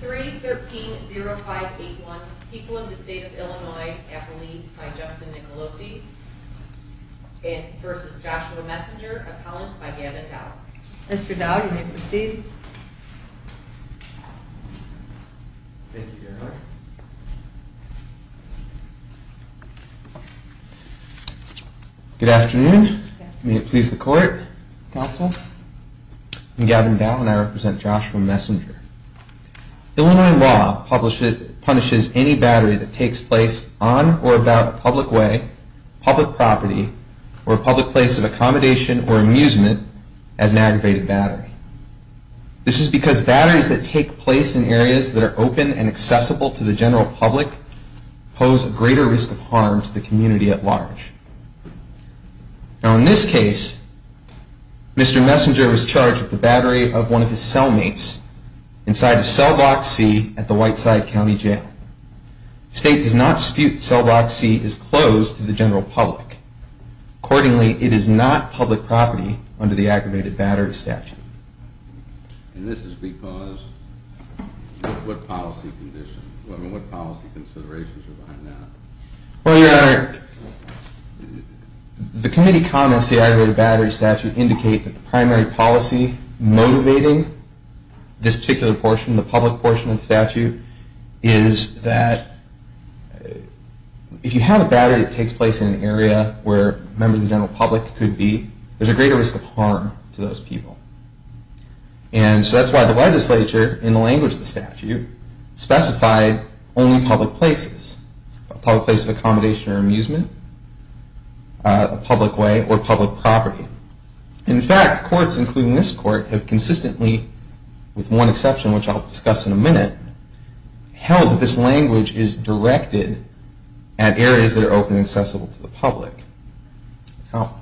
3-13-0581 People in the State of Illinois, Appalachia, by Justin Nicolosi v. Joshua Messenger, Appalachia, by Gavin Dow. Mr. Dow, you may proceed. Thank you very much. Good afternoon. May it please the Court, Counsel. I'm Gavin Dow, and I represent Joshua Messenger. Illinois law punishes any battery that takes place on or about a public way, public property, or a public place of accommodation or amusement as an aggravated battery. This is because batteries that take place in areas that are open and accessible to the general public pose a greater risk of harm to the community at large. In this case, Mr. Messenger was charged with the battery of one of his cellmates inside of Cell Block C at the Whiteside County Jail. The State does not dispute that Cell Block C is closed to the general public. Accordingly, it is not public property under the aggravated battery statute. And this is because, what policy conditions, what policy considerations are behind that? Well, Your Honor, the committee comments the aggravated battery statute indicate that the primary policy motivating this particular portion, the public portion of the statute, is that if you have a battery that takes place in an area where members of the general public could be, there's a greater risk of harm to those people. And so that's why the legislature, in the language of the statute, specified only public places, a public place of accommodation or amusement, a public way, or public property. In fact, courts, including this court, have consistently, with one exception, which I'll discuss in a minute, held that this language is directed at areas that are open and accessible to the public. Now,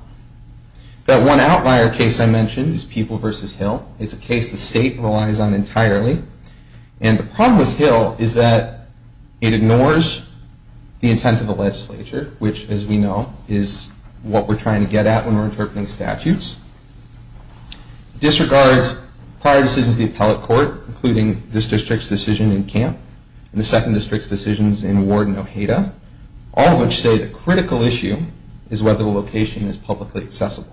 that one outlier case I mentioned is People v. Hill. It's a case the State relies on entirely. And the problem with Hill is that it ignores the intent of the legislature, which, as we know, is what we're trying to get at when we're interpreting statutes. It disregards prior decisions of the appellate court, including this district's decision in Camp and the second district's decisions in Ward and Ojeda, all of which say the critical issue is whether the location is publicly accessible.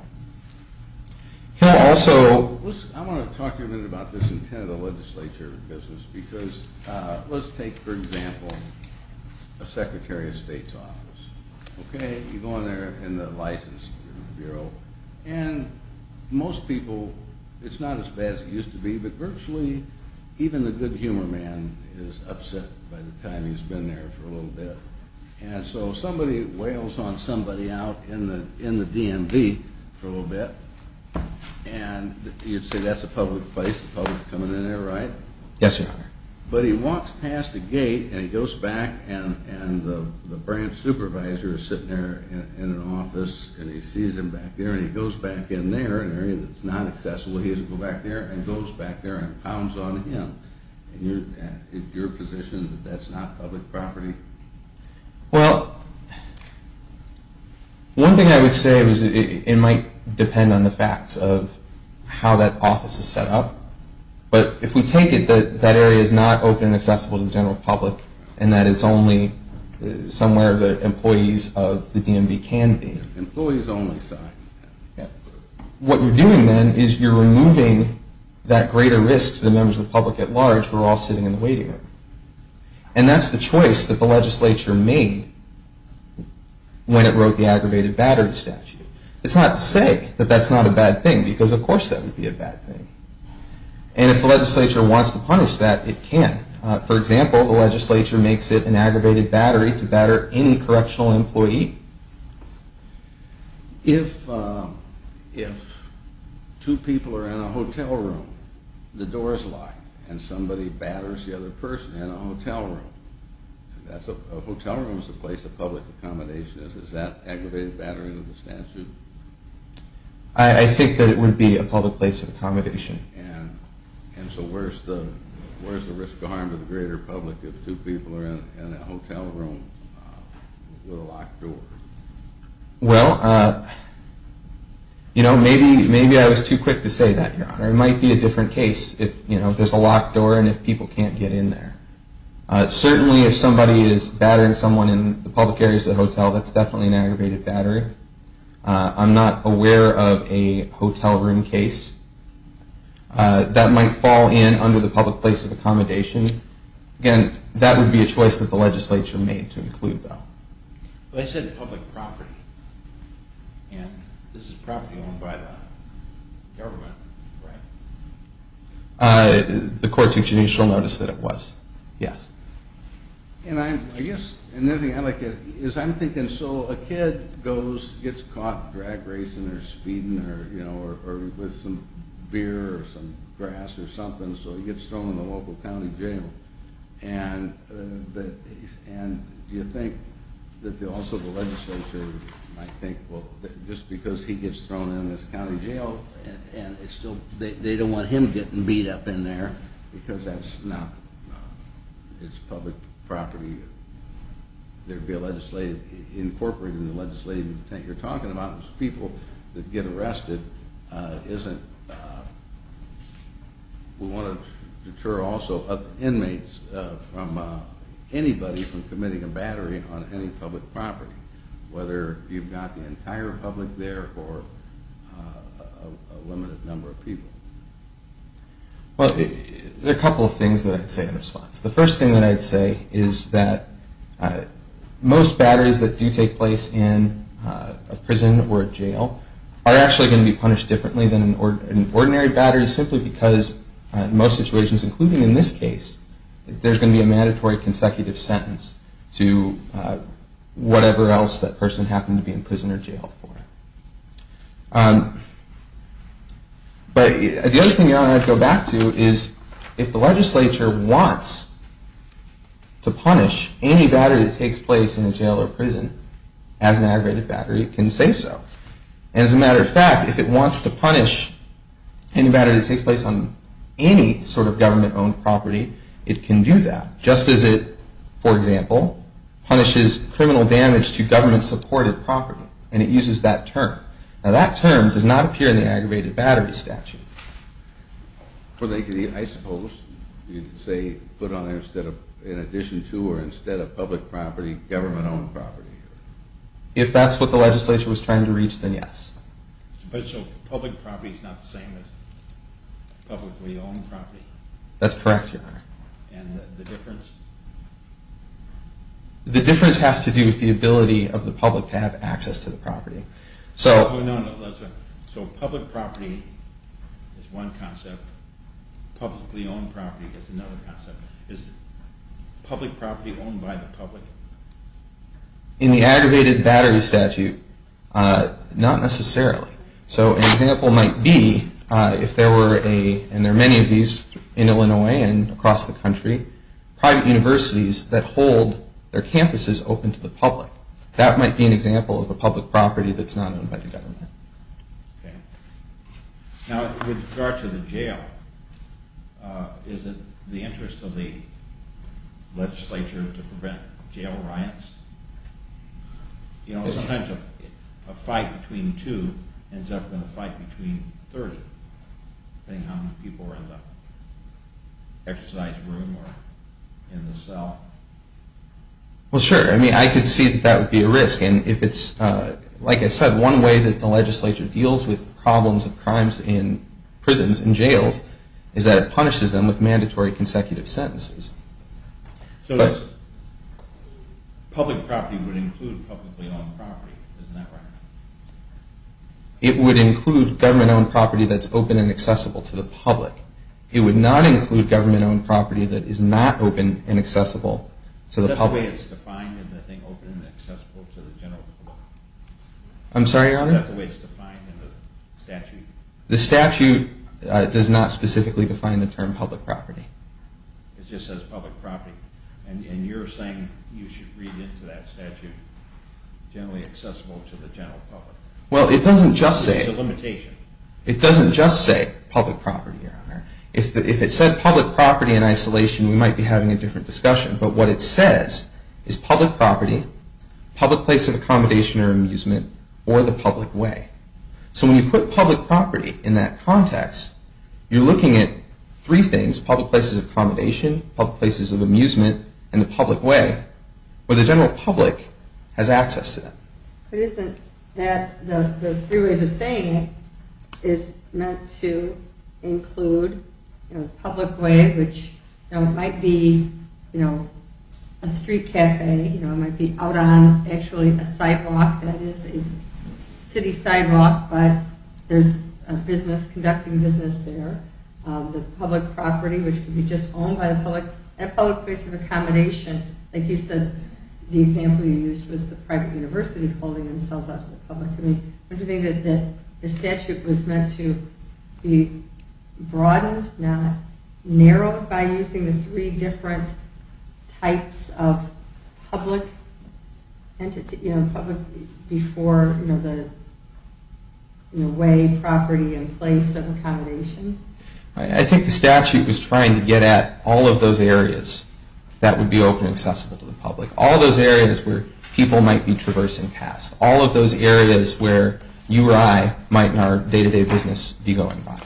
Okay, so I want to talk to you a minute about this intent of the legislature business, because let's take, for example, a Secretary of State's office. Okay, you go in there in the License Bureau, and most people, it's not as bad as it used to be, but virtually even the good humor man is upset by the time he's been there for a little bit. And so somebody wails on somebody out in the DMV for a little bit, and you'd say that's a public place, the public's coming in there, right? Yes, sir. But he walks past a gate, and he goes back, and the branch supervisor is sitting there in an office, and he sees him back there, and he goes back in there, in an area that's not accessible, he has to go back there, and goes back there and pounds on him. Is your position that that's not public property? Well, one thing I would say is it might depend on the facts of how that office is set up, but if we take it that that area is not open and accessible to the general public, and that it's only somewhere the employees of the DMV can be. Employees only, sorry. What you're doing then is you're removing that greater risk to the members of the public at large who are all sitting in the waiting room. And that's the choice that the legislature made when it wrote the aggravated battery statute. It's not to say that that's not a bad thing, because of course that would be a bad thing. And if the legislature wants to punish that, it can. For example, the legislature makes it an aggravated battery to batter any correctional employee. If two people are in a hotel room, the door is locked, and somebody batters the other person in a hotel room. A hotel room is a place of public accommodation. Is that aggravated battery to the statute? I think that it would be a public place of accommodation. And so where's the risk of harm to the greater public if two people are in a hotel room with a locked door? Well, you know, maybe I was too quick to say that, Your Honor. It might be a different case if there's a locked door and if people can't get in there. Certainly if somebody is battering someone in the public areas of the hotel, that's definitely an aggravated battery. I'm not aware of a hotel room case that might fall in under the public place of accommodation. Again, that would be a choice that the legislature made to include that. They said public property, and this is property owned by the government, right? The court's initial notice that it was, yes. And I guess another thing I'd like to ask is I'm thinking, so a kid gets caught drag racing or speeding or with some beer or some grass or something, so he gets thrown in the local county jail, and do you think that also the legislature might think, well, just because he gets thrown in this county jail and it's still, they don't want him getting beat up in there because that's not, it's public property. There'd be a legislative, incorporating the legislative intent you're talking about is people that get arrested isn't, we want to deter also inmates from anybody from committing a battery on any public property, whether you've got the entire public there or a limited number of people. Well, there are a couple of things that I'd say in response. The first thing that I'd say is that most batteries that do take place in a prison or a jail are actually going to be punished differently than an ordinary battery simply because in most situations, including in this case, there's going to be a mandatory consecutive sentence to whatever else that person happened to be in prison or jail for. But the other thing I'd go back to is if the legislature wants to punish any battery that takes place in a jail or prison as an aggravated battery, it can say so. As a matter of fact, if it wants to punish any battery that takes place on any sort of government-owned property, it can do that. Just as it, for example, punishes criminal damage to government-supported property and it uses that term. Now that term does not appear in the aggravated battery statute. Well, I suppose you could say put on there instead of, in addition to or instead of public property, government-owned property. If that's what the legislature was trying to reach, then yes. So public property is not the same as publicly-owned property? That's correct, Your Honor. And the difference? The difference has to do with the ability of the public to have access to the property. So public property is one concept. Publicly-owned property is another concept. Is public property owned by the public? In the aggravated battery statute, not necessarily. So an example might be if there were a, and there are many of these in Illinois and across the country, private universities that hold their campuses open to the public. That might be an example of a public property that's not owned by the government. Okay. Now with regard to the jail, is it the interest of the legislature to prevent jail riots? You know, sometimes a fight between two ends up in a fight between 30, depending on how many people are in the exercise room or in the cell. Well, sure. I mean, I could see that that would be a risk. And if it's, like I said, one way that the legislature deals with problems of crimes in prisons and jails is that it punishes them with mandatory consecutive sentences. So public property would include publicly-owned property. Isn't that right? It would include government-owned property that's open and accessible to the public. It would not include government-owned property that is not open and accessible to the public. Is that the way it's defined in the thing, open and accessible to the general public? I'm sorry, Your Honor? Is that the way it's defined in the statute? The statute does not specifically define the term public property. It just says public property. And you're saying you should read into that statute generally accessible to the general public. Well, it doesn't just say... There's a limitation. It doesn't just say public property, Your Honor. If it said public property in isolation, we might be having a different discussion. But what it says is public property, public place of accommodation or amusement, or the public way. So when you put public property in that context, you're looking at three things, public places of accommodation, public places of amusement, and the public way, where the general public has access to them. The three ways of saying it is meant to include public way, which might be a street cafe, might be out on actually a sidewalk that is a city sidewalk, but there's a business conducting business there. The public property, which could be just owned by the public, and public place of accommodation. Like you said, the example you used was the private university holding themselves up to the public. Don't you think that the statute was meant to be broadened, not narrowed, by using the three different types of public before the way, property, and place of accommodation? I think the statute was trying to get at all of those areas that would be open and accessible to the public. All those areas where people might be traversing paths. All of those areas where you or I might in our day-to-day business be going by.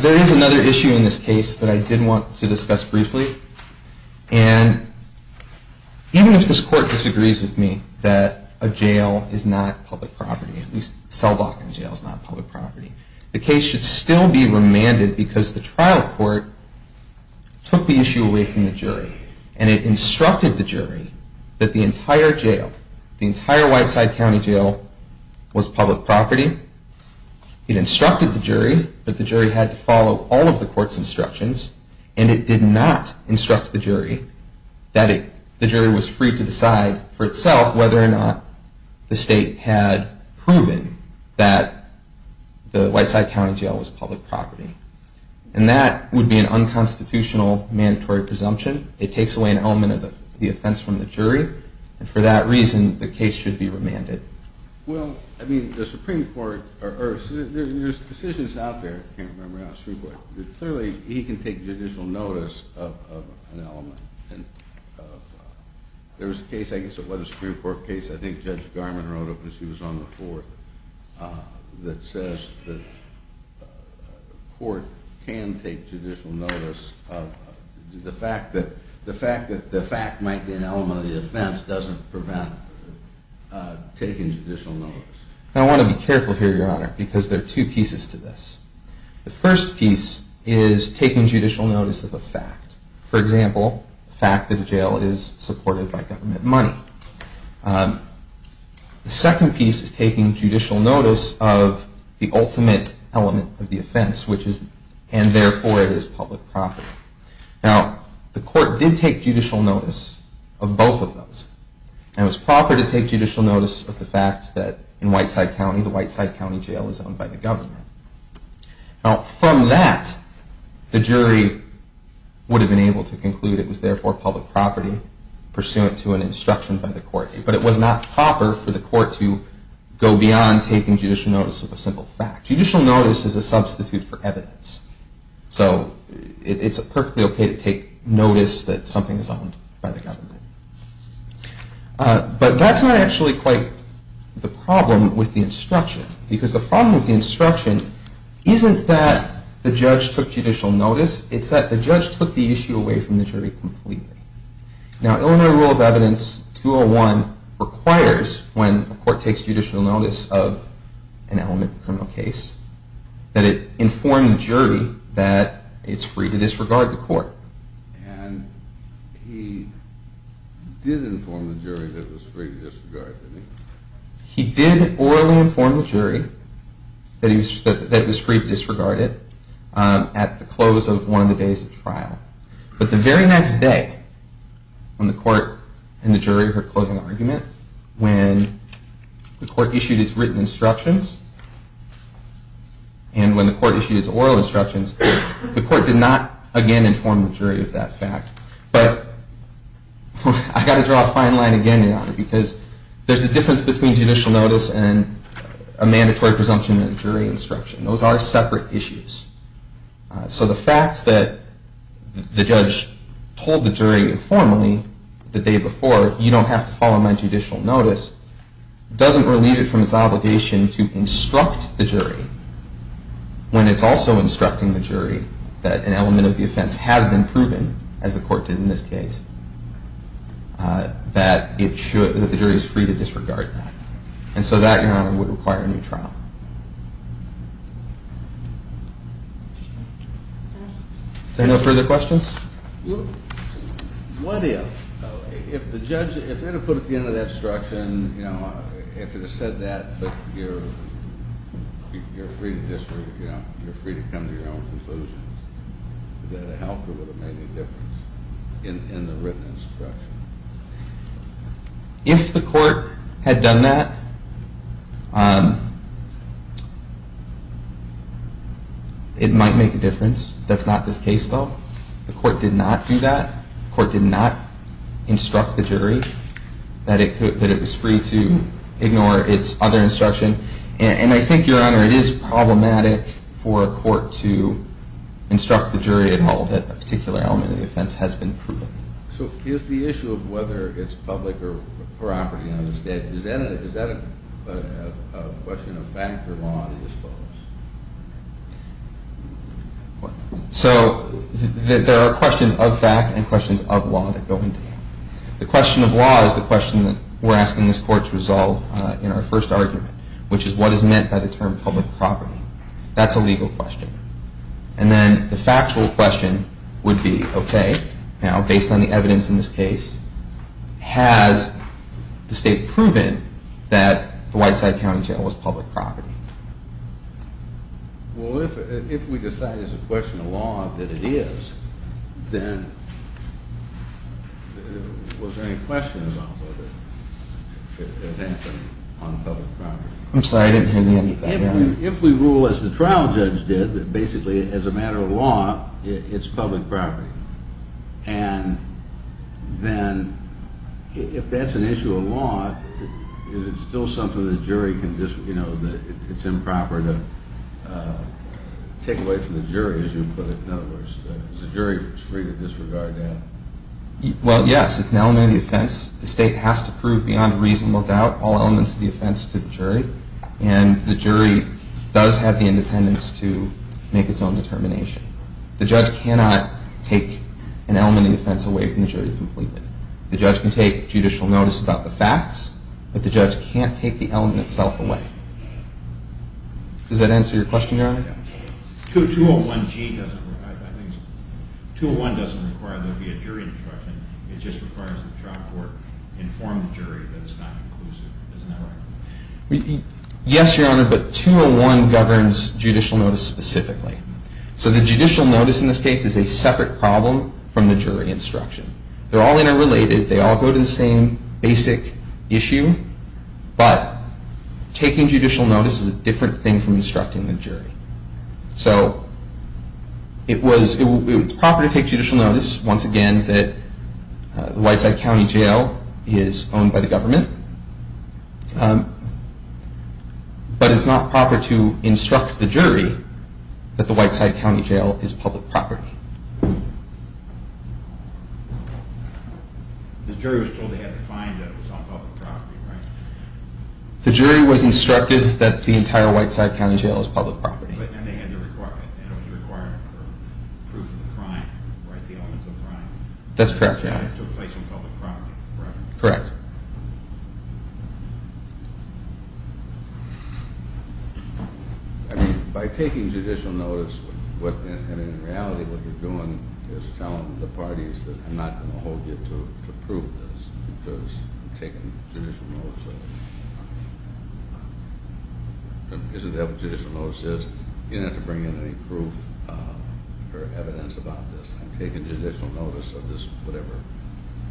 There is another issue in this case that I did want to discuss briefly. And even if this court disagrees with me that a jail is not public property, at least Selbachan Jail is not public property, the case should still be remanded because the trial court took the issue away from the jury. And it instructed the jury that the entire jail, the entire Whiteside County Jail, was public property. It instructed the jury that the jury had to follow all of the court's instructions. And it did not instruct the jury that the jury was free to decide for itself whether or not the state had proven that the Whiteside County Jail was public property. And that would be an unconstitutional mandatory presumption. It takes away an element of the offense from the jury. And for that reason, the case should be remanded. Well, I mean, the Supreme Court, or there are decisions out there, I can't remember now, but clearly he can take judicial notice of an element. There was a case, I guess it was a Supreme Court case, I think Judge Garman wrote it because he was on the fourth, that says the court can take judicial notice of the fact that the fact might be an element of the offense but the offense doesn't prevent taking judicial notice. I want to be careful here, Your Honor, because there are two pieces to this. The first piece is taking judicial notice of a fact. For example, the fact that the jail is supported by government money. The second piece is taking judicial notice of the ultimate element of the offense, and therefore it is public property. Now, the court did take judicial notice of both of those. And it was proper to take judicial notice of the fact that in Whiteside County, the Whiteside County jail is owned by the government. Now, from that, the jury would have been able to conclude it was therefore public property, pursuant to an instruction by the court. But it was not proper for the court to go beyond taking judicial notice of a simple fact. Judicial notice is a substitute for evidence. So it's perfectly okay to take notice that something is owned by the government. But that's not actually quite the problem with the instruction. Because the problem with the instruction isn't that the judge took judicial notice, it's that the judge took the issue away from the jury completely. Now, Illinois Rule of Evidence 201 requires when the court takes judicial notice of an element of a criminal case that it inform the jury that it's free to disregard the court. And he did inform the jury that it was free to disregard, didn't he? He did orally inform the jury that it was free to disregard it at the close of one of the days of trial. But the very next day, when the court and the jury heard closing argument, when the court issued its written instructions, and when the court issued its oral instructions, the court did not again inform the jury of that fact. But I've got to draw a fine line again here, because there's a difference between judicial notice and a mandatory presumption in a jury instruction. Those are separate issues. So the fact that the judge told the jury informally the day before, you don't have to follow my judicial notice, doesn't relieve it from its obligation to instruct the jury when it's also instructing the jury that an element of the offense has been proven, as the court did in this case, that the jury is free to disregard that. And so that, Your Honor, would require a new trial. Are there no further questions? What if the judge, if it had put at the end of that instruction, you know, if it had said that, but you're free to disregard it, you know, you're free to come to your own conclusions, would that have helped or would it have made any difference in the written instruction? If the court had done that, it might make a difference. That's not this case, though. The court did not do that. The court did not instruct the jury that it was free to ignore its other instruction. And I think, Your Honor, it is problematic for a court to instruct the jury and hold that a particular element of the offense has been proven. So is the issue of whether it's public or property on the statute, Is that a question of fact or law, do you suppose? So there are questions of fact and questions of law that go into that. The question of law is the question that we're asking this court to resolve in our first argument, which is what is meant by the term public property. That's a legal question. And then the factual question would be, okay, now based on the evidence in this case, has the state proven that the Whiteside County Jail was public property? Well, if we decide it's a question of law that it is, then was there any question about whether it had happened on public property? I'm sorry, I didn't hear the end of that. If we rule, as the trial judge did, that basically as a matter of law, it's public property, and then if that's an issue of law, is it still something the jury can just, you know, it's improper to take away from the jury, as you put it, in other words. Is the jury free to disregard that? Well, yes, it's an element of the offense. The state has to prove beyond reasonable doubt all elements of the offense to the jury, and the jury does have the independence to make its own determination. The judge cannot take an element of the offense away from the jury completely. The judge can take judicial notice about the facts, but the judge can't take the element itself away. Does that answer your question, Your Honor? 201G doesn't require that, I think. 201 doesn't require there to be a jury instruction. It just requires the trial court to inform the jury that it's not inclusive. Isn't that right? Yes, Your Honor, but 201 governs judicial notice specifically. So the judicial notice in this case is a separate problem from the jury instruction. They're all interrelated. They all go to the same basic issue, but taking judicial notice is a different thing from instructing the jury. So it's proper to take judicial notice, once again, that the Whiteside County Jail is owned by the government, but it's not proper to instruct the jury that the Whiteside County Jail is public property. The jury was told they had to find that it was on public property, right? The jury was instructed that the entire Whiteside County Jail is public property. And it was a requirement for proof of the crime, right, the elements of the crime. That's correct, Your Honor. It took place on public property, correct? Correct. That's correct. By taking judicial notice, in reality what you're doing is telling the parties that I'm not going to hold you to proof of this because I'm taking judicial notice of it. Because of what judicial notice is, you don't have to bring in any proof or evidence about this. I'm taking judicial notice of this, whatever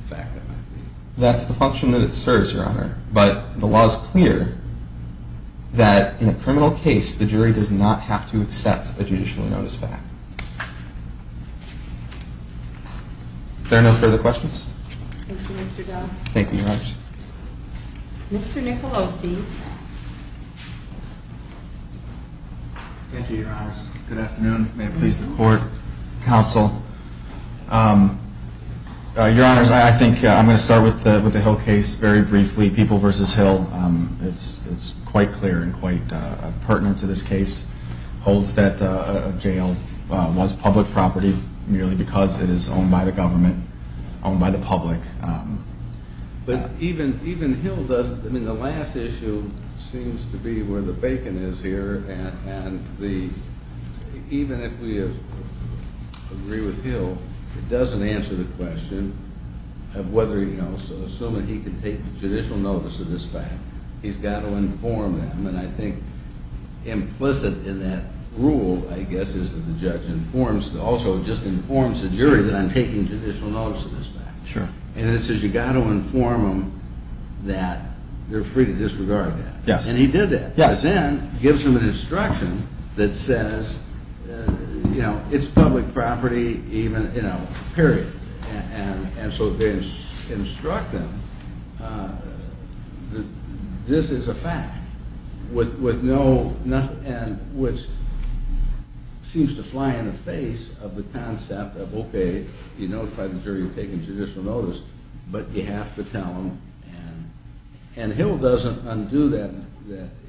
fact that might be. That's the function that it serves, Your Honor. But the law is clear that in a criminal case, the jury does not have to accept a judicial notice fact. Are there no further questions? Thank you, Mr. Dunn. Thank you, Your Honors. Mr. Nicolosi. Thank you, Your Honors. Good afternoon. May it please the Court, Counsel. Your Honors, I think I'm going to start with the Hill case very briefly. People v. Hill, it's quite clear and quite pertinent to this case, holds that a jail was public property merely because it is owned by the government, owned by the public. But even Hill doesn't, I mean, the last issue seems to be where the bacon is here, and even if we agree with Hill, it doesn't answer the question of whether, you know, assuming he can take judicial notice of this fact, he's got to inform them. And I think implicit in that rule, I guess, is that the judge informs, also just informs the jury that I'm taking judicial notice of this fact. Sure. And it says you've got to inform them that they're free to disregard that. Yes. And he did that. Yes. But then gives them an instruction that says, you know, it's public property even, you know, period. And so they instruct them that this is a fact, which seems to fly in the face of the concept of, okay, you notified the jury you're taking judicial notice, but you have to tell them. And Hill doesn't undo that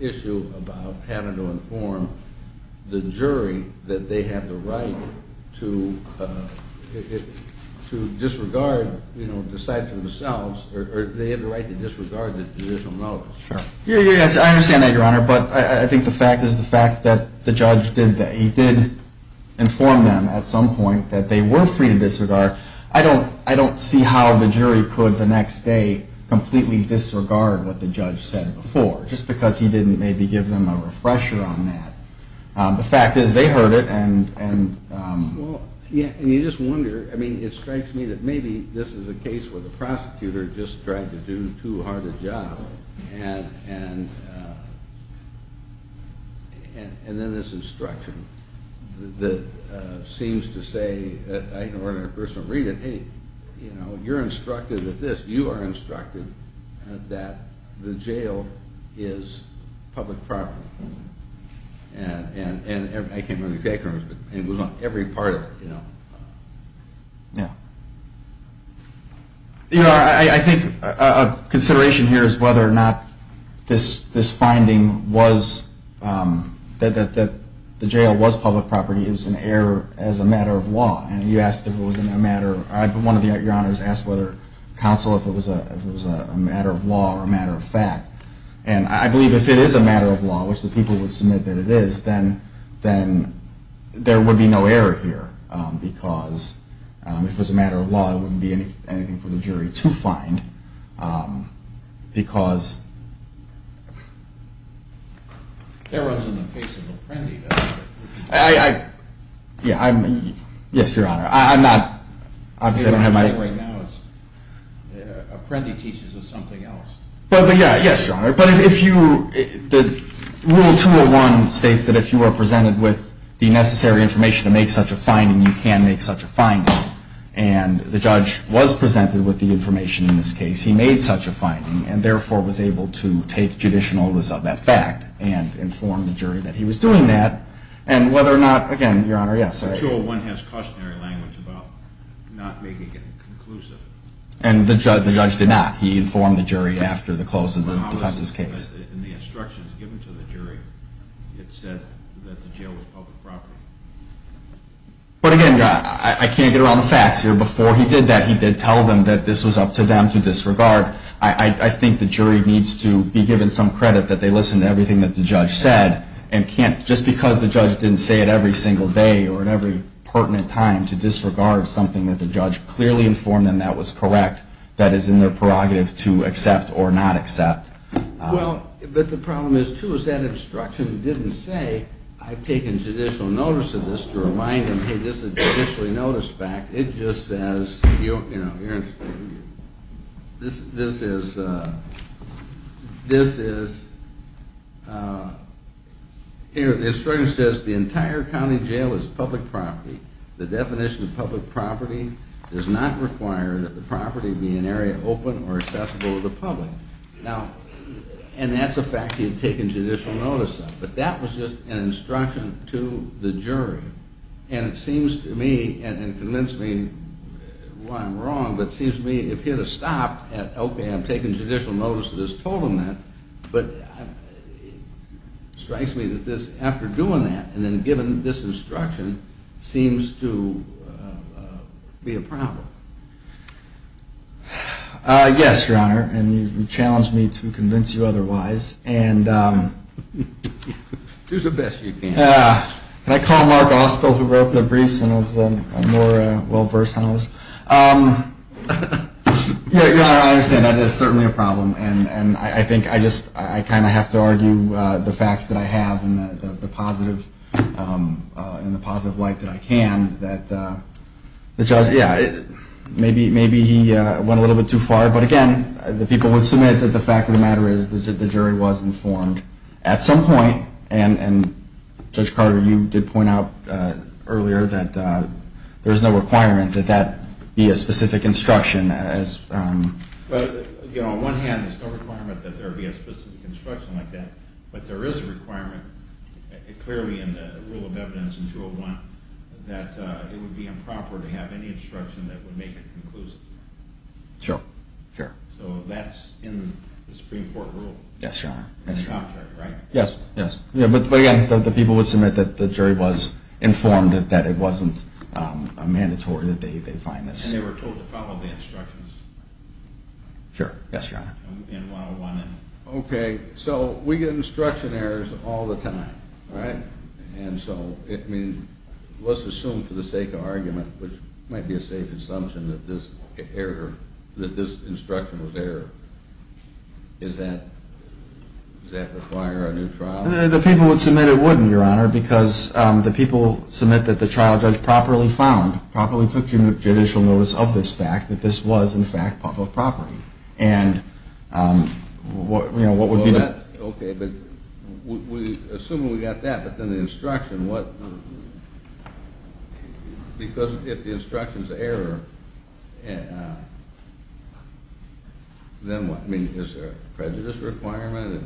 issue about having to inform the jury that they have the right to disregard, you know, decide for themselves, or they have the right to disregard the judicial notice. Sure. Yes, I understand that, Your Honor, but I think the fact is the fact that the judge did, he did inform them at some point that they were free to disregard. I don't see how the jury could the next day completely disregard what the judge said before, just because he didn't maybe give them a refresher on that. The fact is they heard it and… Well, yeah, and you just wonder, I mean, it strikes me that maybe this is a case where the prosecutor just tried to do too hard a job, and then this instruction that seems to say, I, in order to personally read it, hey, you know, you're instructed that this, you are instructed that the jail is public property. And I can't remember the exact terms, but it was on every part of it, you know. Yeah. You know, I think a consideration here is whether or not this finding was, that the jail was public property is an error as a matter of law. And you asked if it was a matter, one of Your Honors asked whether counsel, if it was a matter of law or a matter of fact. And I believe if it is a matter of law, which the people would submit that it is, then there would be no error here. Because if it was a matter of law, it wouldn't be anything for the jury to find. Because… That runs in the face of Apprendi, doesn't it? I, yeah, I'm, yes, Your Honor. I'm not, obviously I don't have my… What I'm saying right now is Apprendi teaches us something else. But, yeah, yes, Your Honor. But if you, Rule 201 states that if you are presented with the necessary information to make such a finding, you can make such a finding. And the judge was presented with the information in this case. He made such a finding, and therefore was able to take judicial notice of that fact and inform the jury that he was doing that. And whether or not, again, Your Honor, yes. Rule 201 has cautionary language about not making it conclusive. And the judge did not. He informed the jury after the closing of the defense's case. But how is it that in the instructions given to the jury, it said that the jail was public property? But, again, I can't get around the facts here. Before he did that, he did tell them that this was up to them to disregard. I think the jury needs to be given some credit that they listened to everything that the judge said. And can't, just because the judge didn't say it every single day or at every pertinent time, to disregard something that the judge clearly informed them that was correct, that is in their prerogative to accept or not accept? Well, but the problem is, too, is that instruction didn't say, I've taken judicial notice of this to remind them, hey, this is a judicially noticed fact. It just says, you know, this is, this is, here, the instruction says the entire county jail is public property. The definition of public property does not require that the property be an area open or accessible to the public. Now, and that's a fact he had taken judicial notice of. But that was just an instruction to the jury. And it seems to me, and convince me why I'm wrong, but it seems to me if he had stopped at, okay, I'm taking judicial notice of this, told him that, but it strikes me that this, after doing that, and then given this instruction, seems to be a problem. Yes, Your Honor, and you've challenged me to convince you otherwise. Do the best you can. Can I call Mark Ostle, who wrote the briefs and is more well-versed on this? Your Honor, I understand that it is certainly a problem. And I think I just, I kind of have to argue the facts that I have and the positive light that I can that the judge, yeah, maybe he went a little bit too far. But again, the people would submit that the fact of the matter is that the jury was informed at some point. And Judge Carter, you did point out earlier that there's no requirement that that be a specific instruction. Well, you know, on one hand, there's no requirement that there be a specific instruction like that. But there is a requirement, clearly in the rule of evidence in 201, that it would be improper to have any instruction that would make it conclusive. Sure, sure. So that's in the Supreme Court rule. Yes, Your Honor. Yes, yes. But again, the people would submit that the jury was informed that it wasn't mandatory that they find this. And they were told to follow the instructions. Sure, yes, Your Honor. In 101. Okay, so we get instruction errors all the time, right? And so, I mean, let's assume for the sake of argument, which might be a safe assumption that this error, that this instruction was errored. Does that require a new trial? The people would submit it wouldn't, Your Honor, because the people submit that the trial judge properly found, properly took judicial notice of this fact, that this was, in fact, public property. And, you know, what would be the… Okay, but we assume we got that, but then the instruction, what, because if the instruction is error, then what? I mean, is there a prejudice requirement?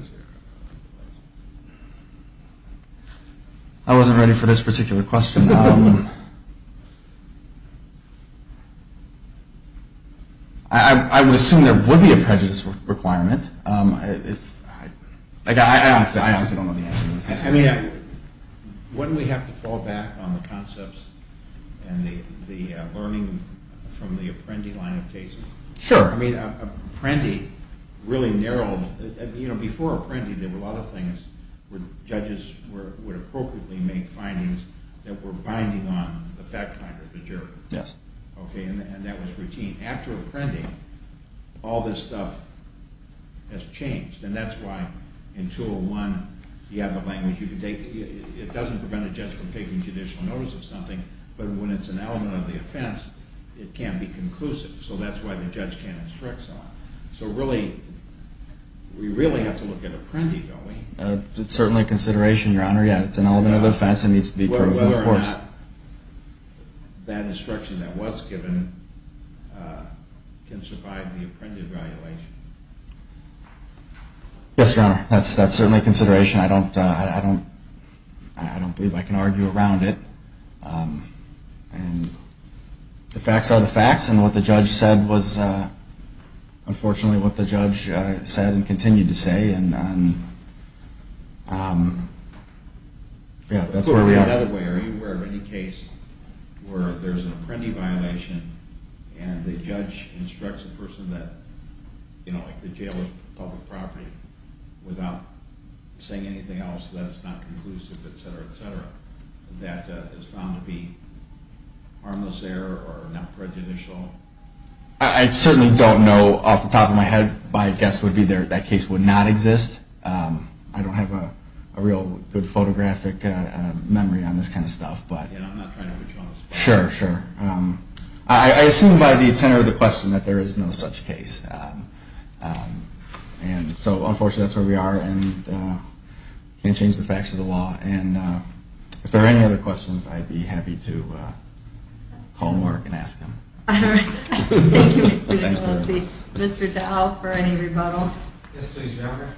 I wasn't ready for this particular question. I would assume there would be a prejudice requirement. I honestly don't know the answer to this. I mean, wouldn't we have to fall back on the concepts and the learning from the Apprendi line of cases? Sure. I mean, Apprendi really narrowed, you know, before Apprendi, there were a lot of things where judges would appropriately make findings that were binding on the fact finder, the juror. Yes. Okay, and that was routine. After Apprendi, all this stuff has changed, and that's why in 201, you have a language you can take. It doesn't prevent a judge from taking judicial notice of something, but when it's an element of the offense, it can't be conclusive. So that's why the judge can't instruct someone. So really, we really have to look at Apprendi, don't we? It's certainly a consideration, Your Honor. Yeah, it's an element of the offense. It needs to be proven, of course. Whether or not that instruction that was given can survive the Apprendi evaluation. Yes, Your Honor, that's certainly a consideration. I don't believe I can argue around it. The facts are the facts, and what the judge said was unfortunately what the judge said and continued to say. And that's where we are. Are you aware of any case where there's an Apprendi violation and the judge instructs the person that the jail is public property without saying anything else so that it's not conclusive, et cetera, et cetera, that is found to be harmless error or not prejudicial? I certainly don't know off the top of my head. My guess would be that case would not exist. I don't have a real good photographic memory on this kind of stuff. Yeah, I'm not trying to be jealous. Sure, sure. I assume by the tenor of the question that there is no such case. And so unfortunately, that's where we are and can't change the facts of the law. And if there are any other questions, I'd be happy to call Mark and ask him. All right. Thank you, Mr. DeColosi. Mr. Dow for any rebuttal. Yes, please, Your Honor.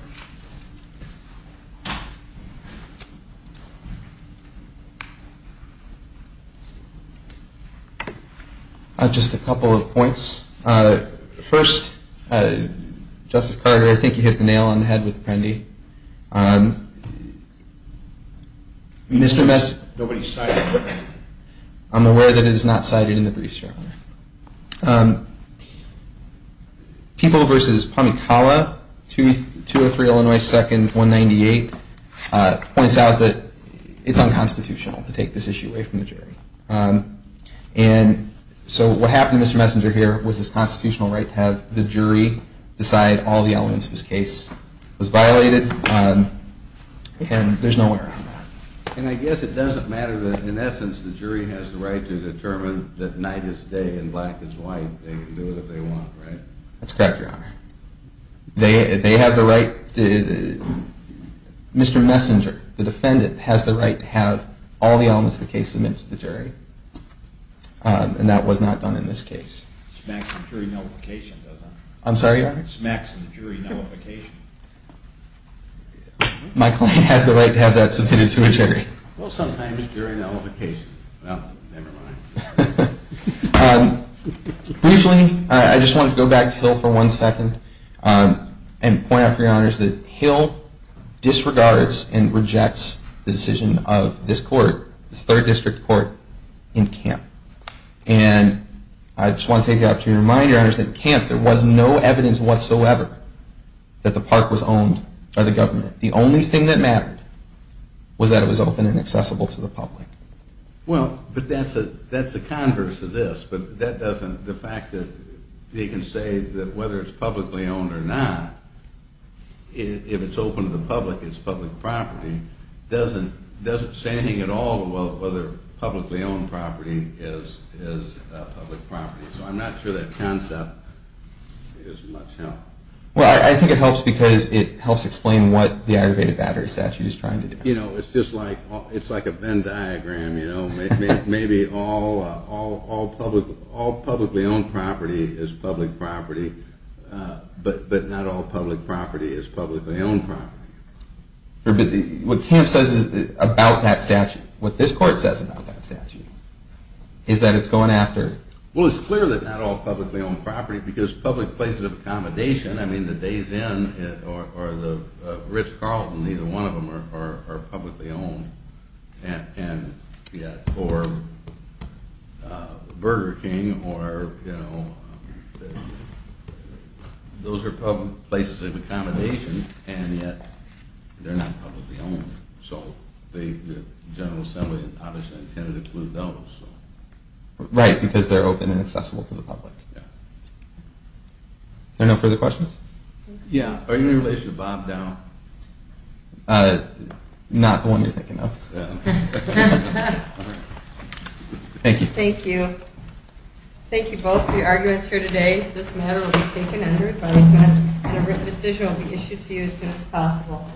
Just a couple of points. First, Justice Carter, I think you hit the nail on the head with Apprendi. Mr. Mess, nobody's cited. I'm aware that it is not cited in the briefs, Your Honor. People v. Pamikala, 203 Illinois 2nd, 198, points out that it's unconstitutional to take this issue away from the jury. And so what happened to Mr. Messenger here was his constitutional right to have the jury decide all the elements of his case was violated, and there's no error on that. And I guess it doesn't matter that, in essence, the jury has the right to determine that night is day and black is white. They can do it if they want, right? That's correct, Your Honor. They have the right. Mr. Messenger, the defendant, has the right to have all the elements of the case submitted to the jury, and that was not done in this case. It smacks the jury nullification, doesn't it? I'm sorry, Your Honor? It smacks the jury nullification. My client has the right to have that submitted to a jury. Well, sometimes during nullification. Well, never mind. Briefly, I just want to go back to Hill for one second and point out for Your Honors that Hill disregards and rejects the decision of this court, this third district court, in Kemp. And I just want to take the opportunity to remind Your Honors that in Kemp there was no evidence whatsoever that the park was owned by the government. The only thing that mattered was that it was open and accessible to the public. Well, but that's the converse of this, but that doesn't, the fact that they can say that whether it's publicly owned or not, if it's open to the public, it's public property, doesn't say anything at all about whether publicly owned property is public property. So I'm not sure that concept is much help. Well, I think it helps because it helps explain what the Aggravated Battery Statute is trying to do. You know, it's just like, it's like a Venn diagram, you know? Maybe all publicly owned property is public property, but not all public property is publicly owned property. But what Kemp says about that statute, what this court says about that statute, is that it's going after Well, it's clear that not all publicly owned property, because public places of accommodation, I mean the Days Inn or the Ritz Carlton, neither one of them are publicly owned, and yet for Burger King or, you know, those are public places of accommodation, and yet they're not publicly owned. So the General Assembly obviously intended to include those. Right, because they're open and accessible to the public. Are there no further questions? Yeah, are you in relation to Bob Dowell? Not the one you're thinking of. Thank you. Thank you. Thank you both for your arguments here today. This matter will be taken under advisement, and a written decision will be issued to you as soon as possible.